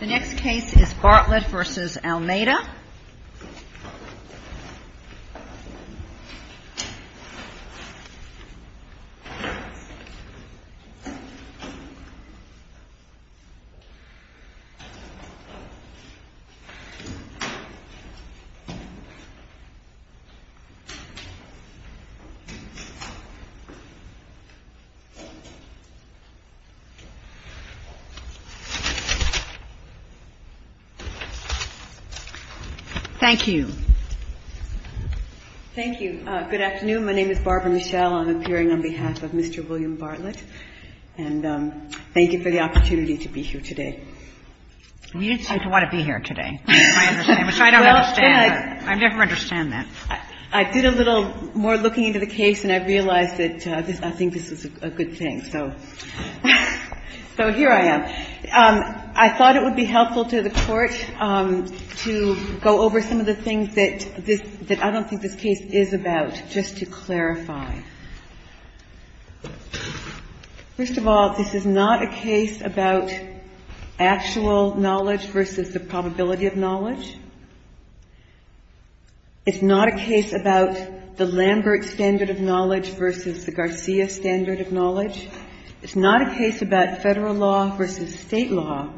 The next case is BARTLETT v. ALAMEIDA. Thank you. BARBARA MICHELLE Thank you. Good afternoon. My name is Barbara Michelle. I'm appearing on behalf of Mr. William Bartlett. And thank you for the opportunity to be here today. KATHLEEN SULLIVAN We didn't seem to want to be here today. I don't understand. I never understand that. BARBARA MICHELLE I did a little more looking into the case, and I realized that I think this is a good thing. So here I am. I thought it would be helpful to the Court to go over some of the things that I don't think this case is about, just to clarify. First of all, this is not a case about actual knowledge versus the probability of knowledge. It's not a case about the Lambert standard of knowledge versus the Garcia standard of knowledge. It's not a case about Federal law versus State law.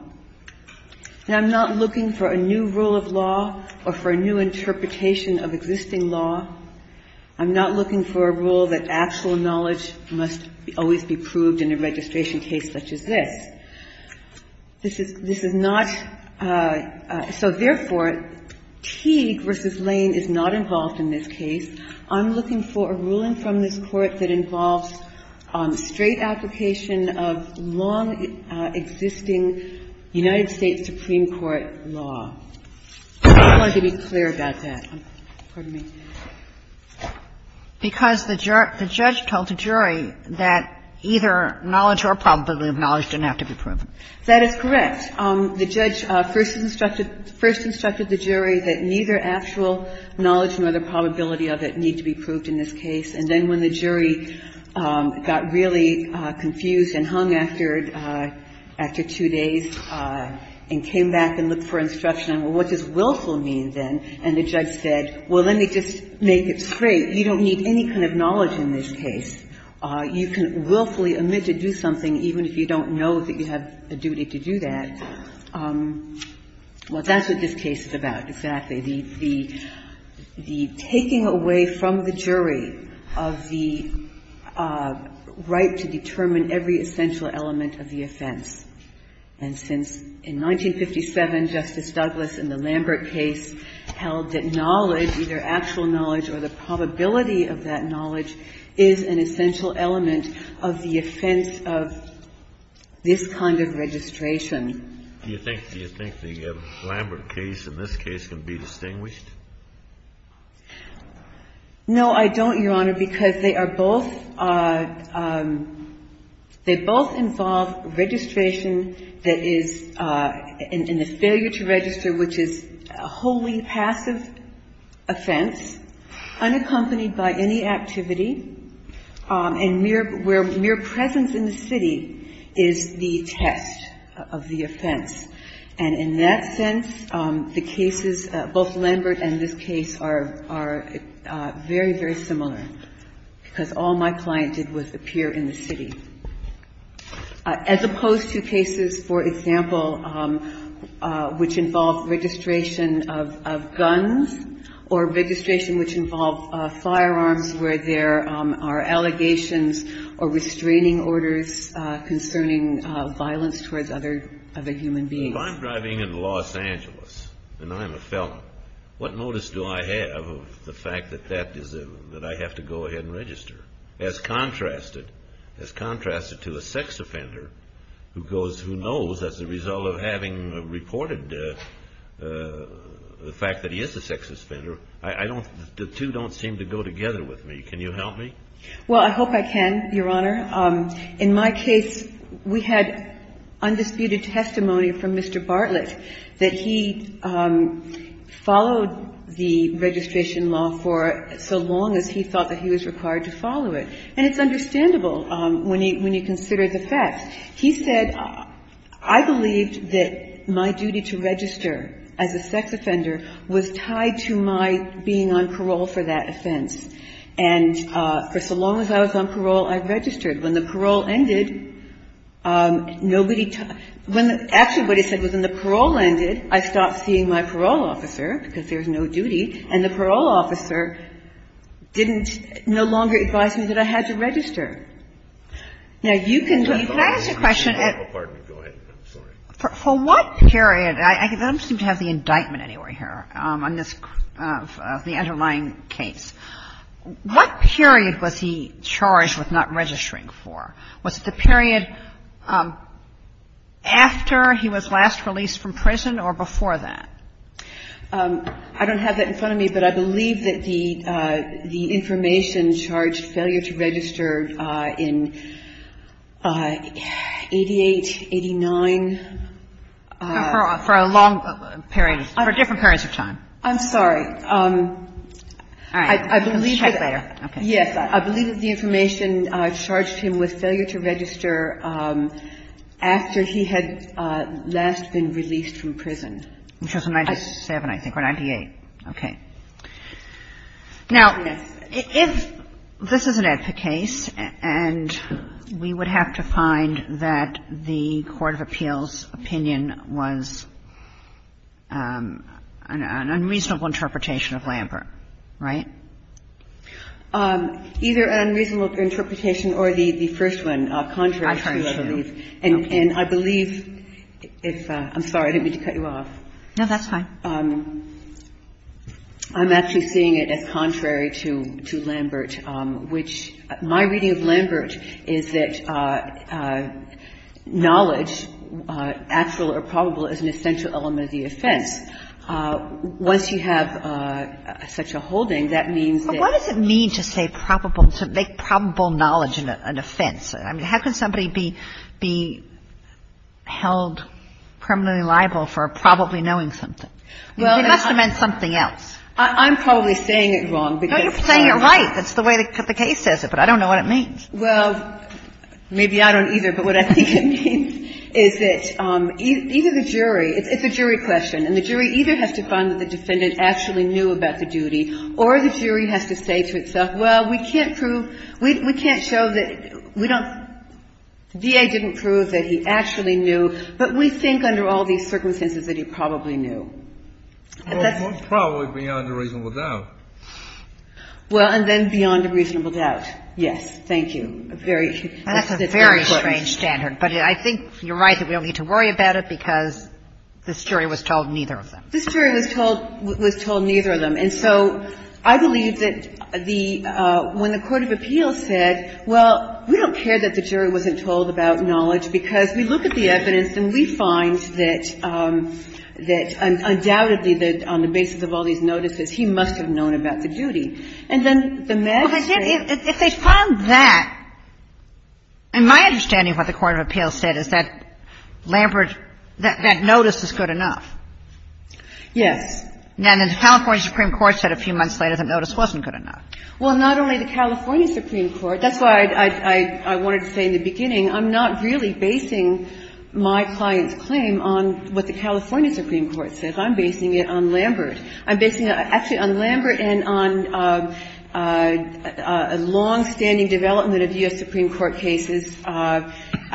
And I'm not looking for a new rule of law or for a new interpretation of existing law. I'm not looking for a rule that actual knowledge must always be proved in a registration case such as this. This is not so, therefore, Teague v. Lane is not involved in this case. I'm looking for a ruling from this Court that involves straight application of long-existing United States Supreme Court law. I just wanted to be clear about that. Pardon me. Because the judge told the jury that either knowledge or probability of knowledge didn't have to be proven. That is correct. The judge first instructed the jury that neither actual knowledge nor the probability of it need to be proved in this case. And then when the jury got really confused and hung after two days and came back and looked for instruction on, well, what does willful mean then, and the judge said, well, let me just make it straight. You don't need any kind of knowledge in this case. You can willfully admit to do something even if you don't know that you have a duty to do that. Well, that's what this case is about, exactly. The taking away from the jury of the right to determine every essential element of the offense. And since in 1957, Justice Douglas in the Lambert case held that knowledge, either actual knowledge or the probability of that knowledge, is an essential element of the offense of this kind of registration. Do you think the Lambert case in this case can be distinguished? No, I don't, Your Honor, because they are both, they both involve registration that is in the failure to register, which is a wholly passive offense, unaccompanied by any activity, and where mere presence in the city is the test of the offense. And in that sense, the cases, both Lambert and this case, are very, very similar, because all my client did was appear in the city. As opposed to cases, for example, which involve registration of guns or registration which involve firearms where there are allegations or restraining orders concerning violence towards other human beings. If I'm driving in Los Angeles and I'm a felon, what notice do I have of the fact that I have to go ahead and register? As contrasted, as contrasted to a sex offender who goes, who knows as a result of having reported the fact that he is a sex offender, I don't, the two don't seem to go together with me. Can you help me? Well, I hope I can, Your Honor. In my case, we had undisputed testimony from Mr. Bartlett that he followed the registration law for so long as he thought that he was required to follow it. And it's understandable when you consider the facts. He said, I believed that my duty to register as a sex offender was tied to my being on parole for that offense. And for so long as I was on parole, I registered. When the parole ended, nobody, when actually what he said was when the parole ended, I stopped seeing my parole officer because there was no duty, and the parole officer didn't, no longer advised me that I had to register. Now, you can leave. Can I ask a question? Oh, pardon me. Go ahead. I'm sorry. For what period? I don't seem to have the indictment anywhere here on this, the underlying case. What period was he charged with not registering for? Was it the period after he was last released from prison or before that? I don't have that in front of me, but I believe that the information charged failure to register in 88, 89. For a long period. For different periods of time. I'm sorry. All right. Let's check later. Okay. Yes. I believe that the information charged him with failure to register after he had last been released from prison. Which was in 97, I think, or 98. Okay. Now, if this is an AEDPA case and we would have to find that the court of appeals opinion was an unreasonable interpretation of Lambert, right? Either an unreasonable interpretation or the first one, contrary to what I believe. And I believe if – I'm sorry. I didn't mean to cut you off. No, that's fine. I'm actually seeing it as contrary to Lambert, which my reading of Lambert is that knowledge, actual or probable, is an essential element of the offense. Once you have such a holding, that means that – But what does it mean to say probable – to make probable knowledge an offense? I mean, how can somebody be held criminally liable for probably knowing something? It must have meant something else. I'm probably saying it wrong because – No, you're saying it right. That's the way the case says it, but I don't know what it means. Well, maybe I don't either, but what I think it means is that either the jury – it's a jury question. And the jury either has to find that the defendant actually knew about the duty or the jury has to say to itself, well, we can't prove – we can't show that – we don't – the DA didn't prove that he actually knew, but we think under all these circumstances that he probably knew. Well, probably beyond a reasonable doubt. Well, and then beyond a reasonable doubt, yes. Thank you. That's a very strange standard, but I think you're right that we don't need to worry about it because this jury was told neither of them. This jury was told neither of them. And so I believe that the – when the court of appeals said, well, we don't care that the jury wasn't told about knowledge because we look at the evidence and we find that undoubtedly that on the basis of all these notices, he must have known about the duty. And then the next thing – Well, if they found that – and my understanding of what the court of appeals said is that Lambert – that notice is good enough. Yes. And the California Supreme Court said a few months later the notice wasn't good enough. Well, not only the California Supreme Court. That's why I wanted to say in the beginning I'm not really basing my client's claim on what the California Supreme Court said. I'm basing it on Lambert. I'm basing it actually on Lambert and on a longstanding development of U.S. Supreme Court cases, I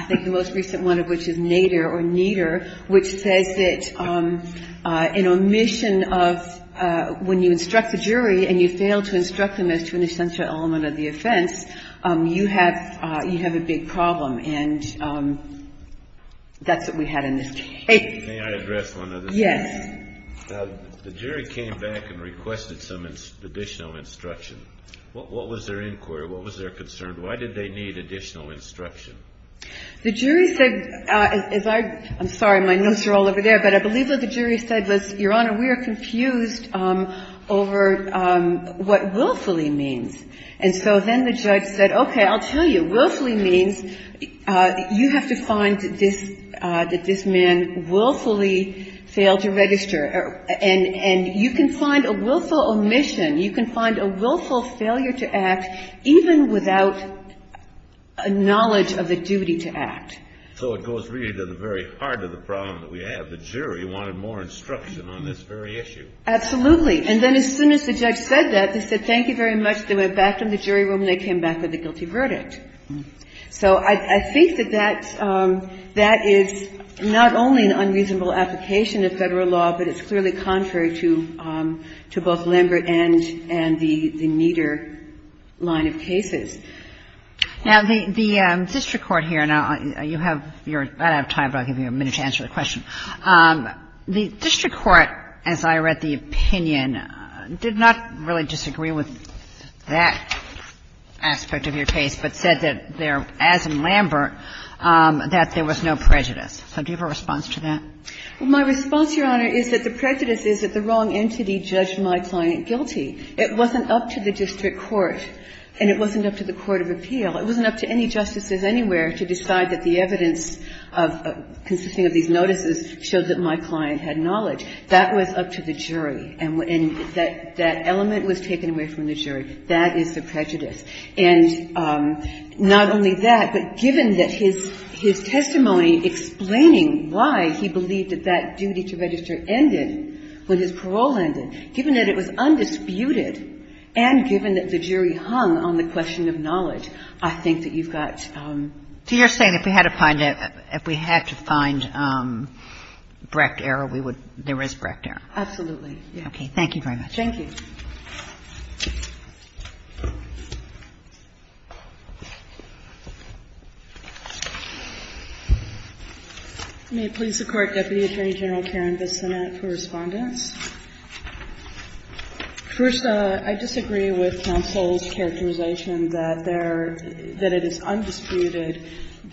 think the most recent one of which is Nader or Nieder, which says that in omission of – when you instruct the jury and you fail to instruct them as to an essential element of the offense, you have a big problem. And that's what we had in this case. May I address one other thing? Yes. The jury came back and requested some additional instruction. What was their inquiry? What was their concern? Why did they need additional instruction? The jury said, as I – I'm sorry. My notes are all over there. But I believe what the jury said was, Your Honor, we are confused over what willfully means. And so then the judge said, okay, I'll tell you. Willfully means you have to find that this man willfully failed to register. And you can find a willful omission. You can find a willful failure to act even without a knowledge of the duty to act. So it goes really to the very heart of the problem that we have. The jury wanted more instruction on this very issue. Absolutely. And then as soon as the judge said that, they said, thank you very much. They went back from the jury room and they came back with a guilty verdict. So I think that that is not only an unreasonable application of Federal law, but it's clearly contrary to both Lambert and the Nieder line of cases. Now, the district court here, and you have your – I don't have time, but I'll give you a minute to answer the question. The district court, as I read the opinion, did not really disagree with that aspect of your case, but said that there, as in Lambert, that there was no prejudice. So do you have a response to that? Well, my response, Your Honor, is that the prejudice is that the wrong entity judged my client guilty. It wasn't up to the district court, and it wasn't up to the court of appeal. It wasn't up to any justices anywhere to decide that the evidence consisting of these notices showed that my client had knowledge. That was up to the jury, and that element was taken away from the jury. That is the prejudice. And not only that, but given that his testimony explaining why he believed that that duty to register ended when his parole ended, given that it was undisputed and given that the jury hung on the question of knowledge, I think that you've got to your saying if we had to find it, if we had to find Brecht error, we would – there is Brecht error. Absolutely. Thank you very much. Thank you. May it please the Court, Deputy Attorney General Karen Bissonnette for respondence. First, I disagree with counsel's characterization that there – that it is undisputed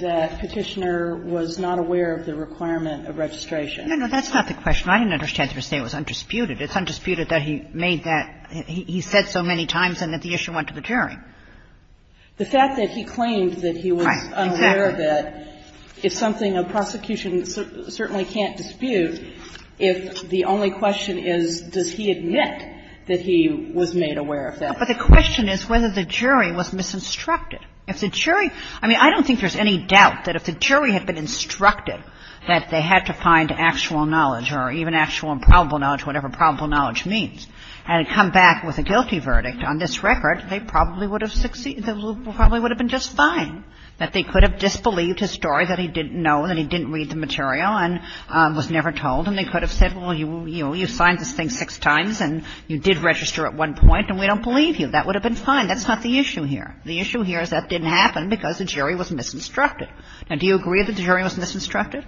that Petitioner was not aware of the requirement of registration. No, no. That's not the question. I didn't understand you saying it was undisputed. It's undisputed that he made that – he said so many times and that the issue went to the jury. The fact that he claimed that he was unaware of it is something a prosecution certainly can't dispute if the only question is, does he admit that he was made aware of that? But the question is whether the jury was misinstructed. If the jury – I mean, I don't think there's any doubt that if the jury had been instructed that they had to find actual knowledge or even actual and probable knowledge, whatever probable knowledge means, and come back with a guilty verdict on this record, they probably would have succeeded. They probably would have been just fine, that they could have disbelieved his story that he didn't know, that he didn't read the material and was never told, and they could have said, well, you know, you signed this thing six times and you did register at one point and we don't believe you. That would have been fine. That's not the issue here. The issue here is that didn't happen because the jury was misinstructed. Now, do you agree that the jury was misinstructed?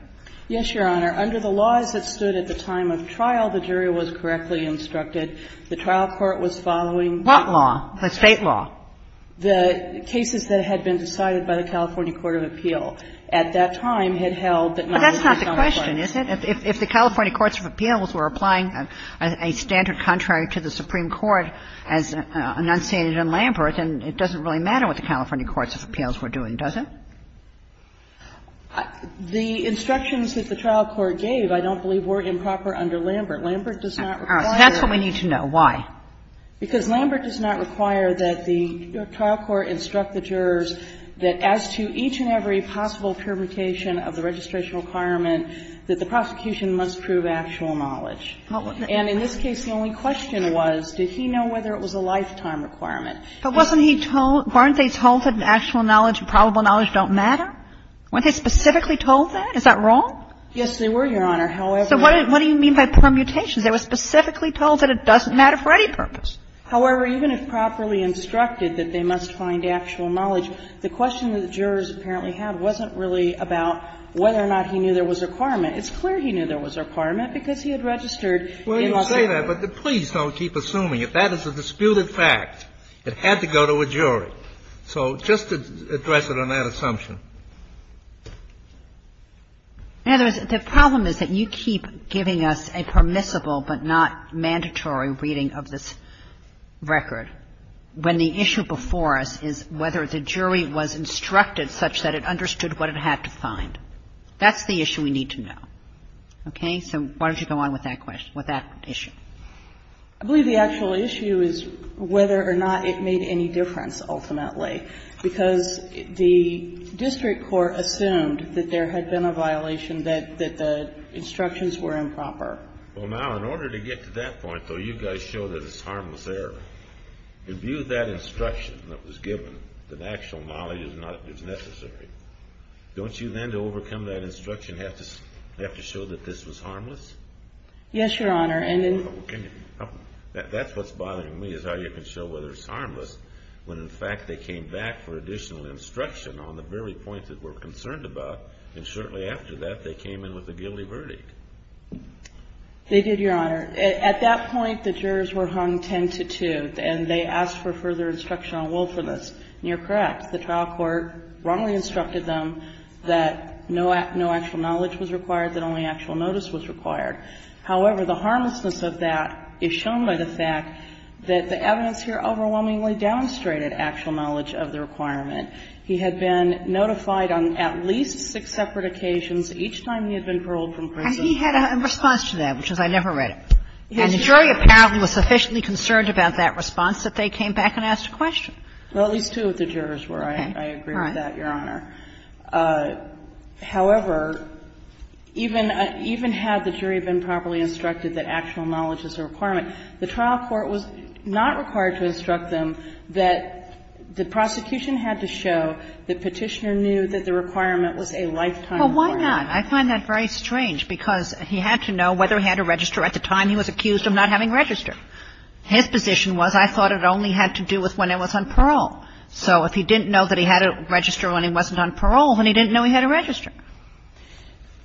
Yes, Your Honor. Under the laws that stood at the time of trial, the jury was correctly instructed. The trial court was following the law. What law? The State law. The cases that had been decided by the California Court of Appeal at that time had held that none of this was going to work. But that's not the question, is it? If the California Courts of Appeals were applying a standard contrary to the Supreme Court as enunciated in Lambert, then it doesn't really matter what the California Courts of Appeals were doing, does it? The instructions that the trial court gave I don't believe were improper under Lambert. Lambert does not require that. That's what we need to know. Why? Because Lambert does not require that the trial court instruct the jurors that as to each and every possible permutation of the registration requirement, that the prosecution must prove actual knowledge. And in this case, the only question was, did he know whether it was a lifetime requirement? But wasn't he told – weren't they told that actual knowledge and probable knowledge don't matter? Weren't they specifically told that? Is that wrong? Yes, they were, Your Honor. However, I don't know. So what do you mean by permutations? They were specifically told that it doesn't matter for any purpose. However, even if properly instructed that they must find actual knowledge, the question that the jurors apparently had wasn't really about whether or not he knew there was a requirement. It's clear he knew there was a requirement because he had registered in Las Vegas. Well, you say that, but please don't keep assuming. If that is a disputed fact, it had to go to a jury. So just to address it on that assumption. Now, the problem is that you keep giving us a permissible but not mandatory reading of this record when the issue before us is whether the jury was instructed such that it understood what it had to find. That's the issue we need to know. Okay? So why don't you go on with that question, with that issue? I believe the actual issue is whether or not it made any difference, ultimately. Because the district court assumed that there had been a violation, that the instructions were improper. Well, now, in order to get to that point, though, you guys show that it's harmless error. In view of that instruction that was given, that actual knowledge is not necessary, don't you then, to overcome that instruction, have to show that this was harmless? Yes, Your Honor. That's what's bothering me, is how you can show whether it's harmless when, in fact, they came back for additional instruction on the very point that we're concerned about, and shortly after that, they came in with a guilty verdict. They did, Your Honor. At that point, the jurors were hung ten to two, and they asked for further instruction on woefulness. And you're correct. The trial court wrongly instructed them that no actual knowledge was required, that only actual notice was required. However, the harmlessness of that is shown by the fact that the evidence here overwhelmingly demonstrated actual knowledge of the requirement. He had been notified on at least six separate occasions each time he had been paroled from prison. And he had a response to that, which was, I never read it. And the jury apparently was sufficiently concerned about that response that they came back and asked a question. Well, at least two of the jurors were. I agree with that, Your Honor. However, even had the jury been properly instructed that actual knowledge is a requirement, the trial court was not required to instruct them that the prosecution had to show that Petitioner knew that the requirement was a lifetime requirement. Well, why not? I find that very strange, because he had to know whether he had a register at the time he was accused of not having a register. His position was, I thought it only had to do with when I was on parole. So if he didn't know that he had a register when he wasn't on parole, then he didn't know he had a register.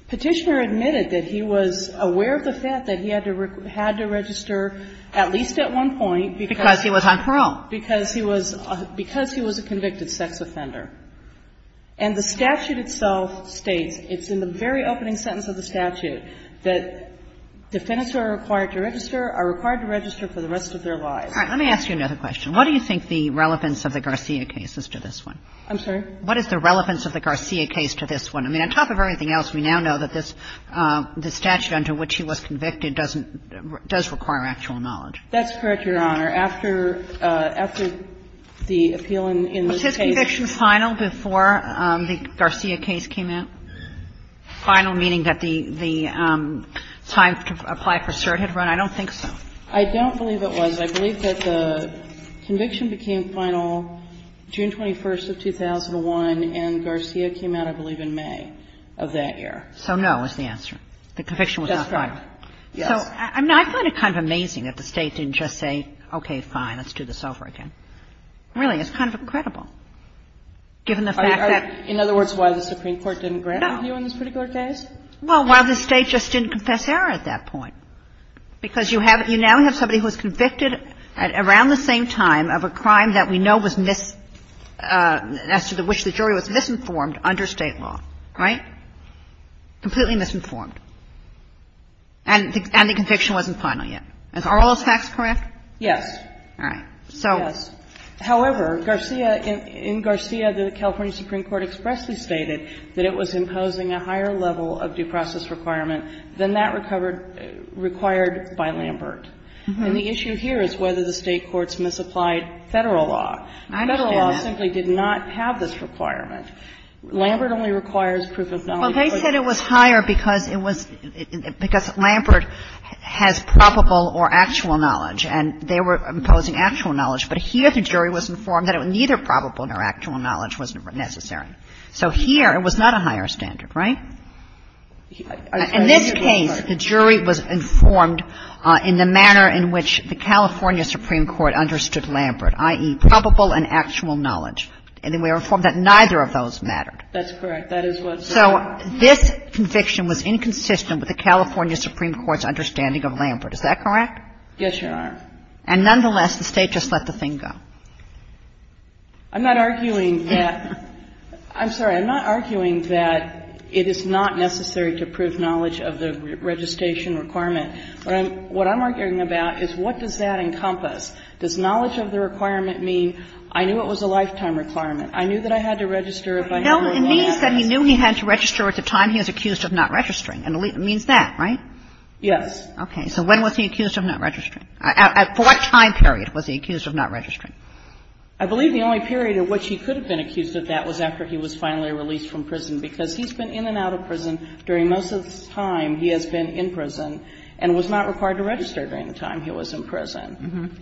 Petitioner admitted that he was aware of the fact that he had to register at least at one point because he was on parole, because he was a convicted sex offender. And the statute itself states, it's in the very opening sentence of the statute, that defendants who are required to register are required to register for the rest of their lives. All right. Let me ask you another question. What do you think the relevance of the Garcia case is to this one? I'm sorry? What is the relevance of the Garcia case to this one? I mean, on top of everything else, we now know that this statute under which he was convicted doesn't does require actual knowledge. That's correct, Your Honor. After the appeal in the case. Was his conviction final before the Garcia case came out? Final meaning that the time to apply for cert had run? I don't think so. I don't believe it was. I believe that the conviction became final June 21st of 2001, and Garcia came out, I believe, in May of that year. So no is the answer. The conviction was not final. That's correct. Yes. So I find it kind of amazing that the State didn't just say, okay, fine, let's do this over again. Really, it's kind of incredible, given the fact that the state just didn't confess error at that point, because you have you now have somebody who is convicted at around the same time of a crime that we know was mis-as to which the jury was misinformed under State law, right? Completely misinformed. And the conviction wasn't final yet. Are all those facts correct? Yes. All right. So. Yes. However, Garcia, in Garcia, the California Supreme Court expressly stated that it was imposing a higher level of due process requirement than that recovered, required by Lambert. And the issue here is whether the State courts misapplied Federal law. Federal law simply did not have this requirement. Lambert only requires proof of knowledge. Well, they said it was higher because it was because Lambert has probable or actual knowledge, and they were imposing actual knowledge. But here the jury was informed that neither probable nor actual knowledge was necessary. So here it was not a higher standard, right? In this case, the jury was informed in the manner in which the California Supreme Court understood Lambert, i.e., probable and actual knowledge. And then we were informed that neither of those mattered. That's correct. That is what's. So this conviction was inconsistent with the California Supreme Court's understanding of Lambert. Is that correct? Yes, Your Honor. And nonetheless, the State just let the thing go. I'm not arguing that. I'm sorry. I'm not arguing that it is not necessary to prove knowledge of the registration requirement. What I'm arguing about is what does that encompass? Does knowledge of the requirement mean I knew it was a lifetime requirement? I knew that I had to register it by a number of months? No. It means that he knew he had to register at the time he was accused of not registering. It means that, right? Yes. Okay. So when was he accused of not registering? At what time period was he accused of not registering? I believe the only period at which he could have been accused of that was after he was finally released from prison, because he's been in and out of prison during most of his time he has been in prison and was not required to register during the time he was in prison.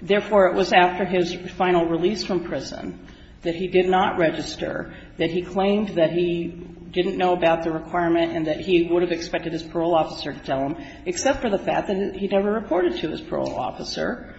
Therefore, it was after his final release from prison that he did not register, that he claimed that he didn't know about the requirement and that he would have expected his parole officer to tell him, except for the fact that he never reported to his parole officer,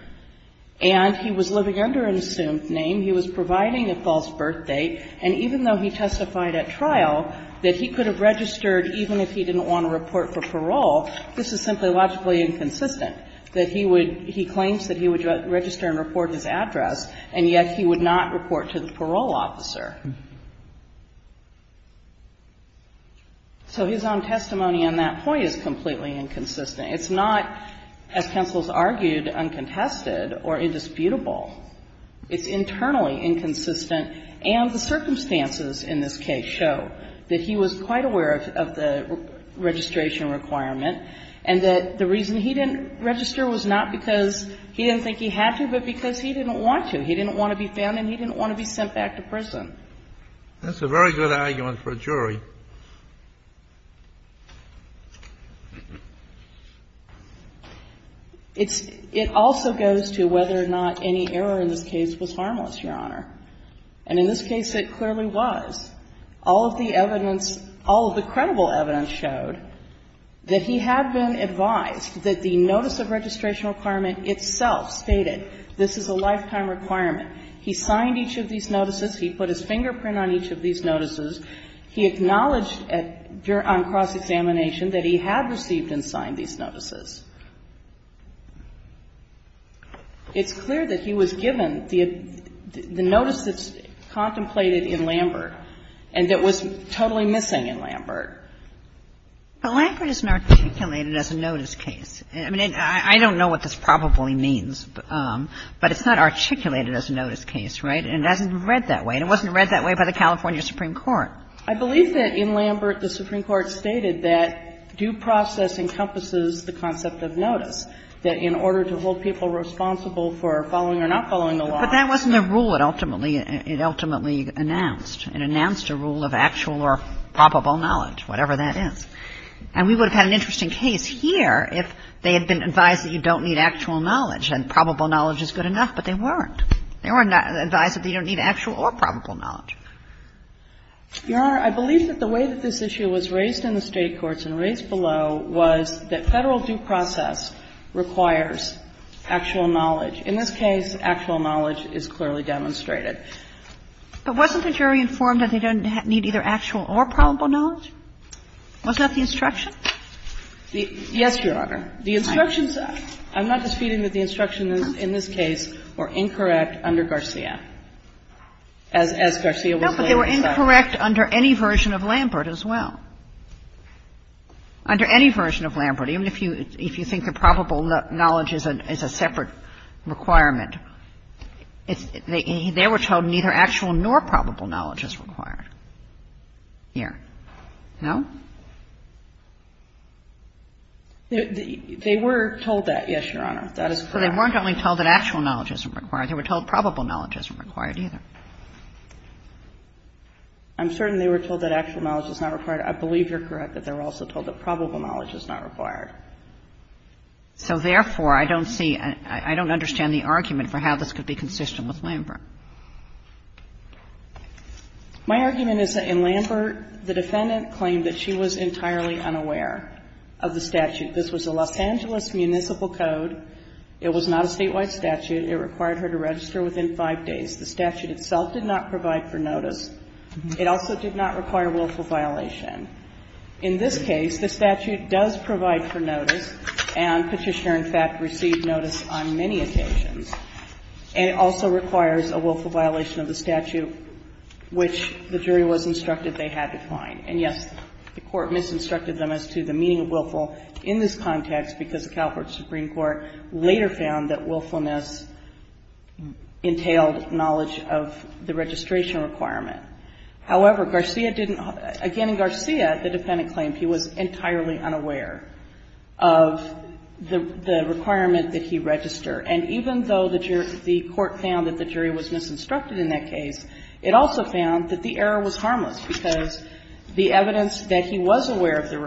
and he was living under an assumed name. He was providing a false birth date, and even though he testified at trial that he could have registered even if he didn't want to report for parole, this is simply logically inconsistent, that he would he claims that he would register and report his address, and yet he would not report to the parole officer. So his own testimony on that point is completely inconsistent. It's not, as counsels argued, uncontested or indisputable. It's internally inconsistent, and the circumstances in this case show that he was quite aware of the registration requirement and that the reason he didn't register was not because he didn't think he had to, but because he didn't want to. He didn't want to be found and he didn't want to be sent back to prison. That's a very good argument for a jury. It's – it also goes to whether or not any of the arguments in this case, whether or not the error in this case was harmless, Your Honor. And in this case, it clearly was. All of the evidence, all of the credible evidence showed that he had been advised that the notice of registration requirement itself stated, this is a lifetime requirement. He signed each of these notices. He put his fingerprint on each of these notices. He acknowledged on cross-examination that he had received and signed these notices. It's clear that he was given the notice that's contemplated in Lambert and that was totally missing in Lambert. But Lambert isn't articulated as a notice case. I mean, I don't know what this probably means, but it's not articulated as a notice case, right? And it hasn't been read that way. And it wasn't read that way by the California Supreme Court. I believe that in Lambert, the Supreme Court stated that due process encompasses the concept of notice, that in order to hold people responsible for following or not following the law. But that wasn't a rule it ultimately – it ultimately announced. It announced a rule of actual or probable knowledge, whatever that is. And we would have had an interesting case here if they had been advised that you don't need actual knowledge and probable knowledge is good enough, but they weren't. They weren't advised that you don't need actual or probable knowledge. Your Honor, I believe that the way that this issue was raised in the State courts and raised below was that Federal due process requires actual knowledge. In this case, actual knowledge is clearly demonstrated. But wasn't the jury informed that they don't need either actual or probable knowledge? Wasn't that the instruction? Yes, Your Honor. The instructions – I'm not disputing that the instructions in this case were incorrect under Garcia, as Garcia was laying aside. No, but they were incorrect under any version of Lambert as well. Under any version of Lambert, even if you think that probable knowledge is a separate requirement. They were told neither actual nor probable knowledge is required here. No? They were told that, yes, Your Honor. That is correct. So they weren't only told that actual knowledge isn't required. They were told probable knowledge isn't required either. I'm certain they were told that actual knowledge is not required. I believe you're correct that they were also told that probable knowledge is not required. So therefore, I don't see – I don't understand the argument for how this could be consistent with Lambert. My argument is that in Lambert, the defendant claimed that she was entirely unaware of the statute. This was a Los Angeles municipal code. It was not a statewide statute. It required her to register within five days. The statute itself did not provide for notice. It also did not require willful violation. In this case, the statute does provide for notice, and Petitioner, in fact, received notice on many occasions. And it also requires a willful violation of the statute, which the jury was instructed they had to find. And, yes, the Court misinstructed them as to the meaning of willful in this context because the California Supreme Court later found that willfulness entailed knowledge of the registration requirement. However, Garcia didn't – again, in Garcia, the defendant claimed he was entirely unaware of the requirement that he register. And even though the court found that the jury was misinstructed in that case, it also found that the error was harmless, because the evidence that he was aware of the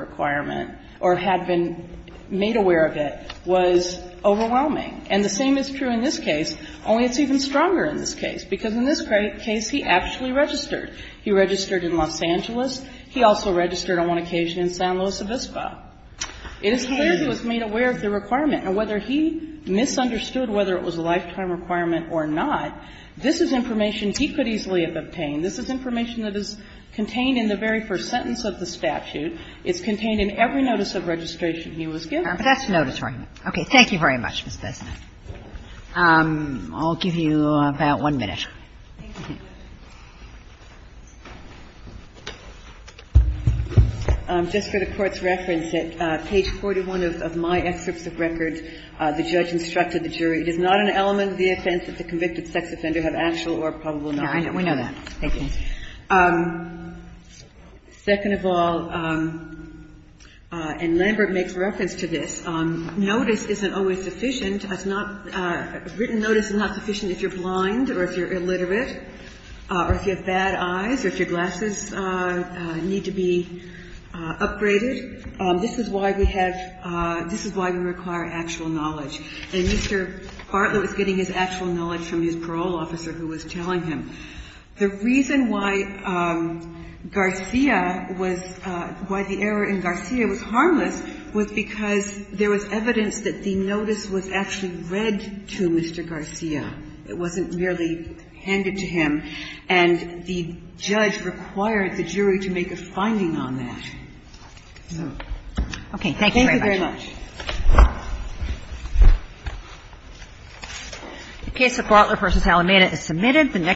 was overwhelming. And the same is true in this case, only it's even stronger in this case, because in this case he actually registered. He registered in Los Angeles. He also registered on one occasion in San Luis Obispo. It is clear he was made aware of the requirement. And whether he misunderstood whether it was a lifetime requirement or not, this is information he could easily have obtained. This is information that is contained in the very first sentence of the statute. It's contained in every notice of registration he was given. But that's notatory. Okay. Thank you very much, Ms. Besnett. I'll give you about one minute. Ms. Besnett. Just for the Court's reference, at page 41 of my excerpts of records, the judge instructed the jury, It is not an element of the offense that the convicted sex offender have actual or probable knowledge of the requirement. We know that. Thank you. Second of all, and Lambert makes reference to this, notice isn't always sufficient. Written notice is not sufficient if you're blind or if you're illiterate or if you have bad eyes or if your glasses need to be upgraded. This is why we require actual knowledge. And Mr. Hartlett was getting his actual knowledge from his parole officer who was telling him. The reason why Garcia was why the error in Garcia was harmless was because there was evidence that the notice was actually read to Mr. Garcia. It wasn't merely handed to him. And the judge required the jury to make a finding on that. Okay. Thank you very much. The case of Butler v. Alameda is submitted.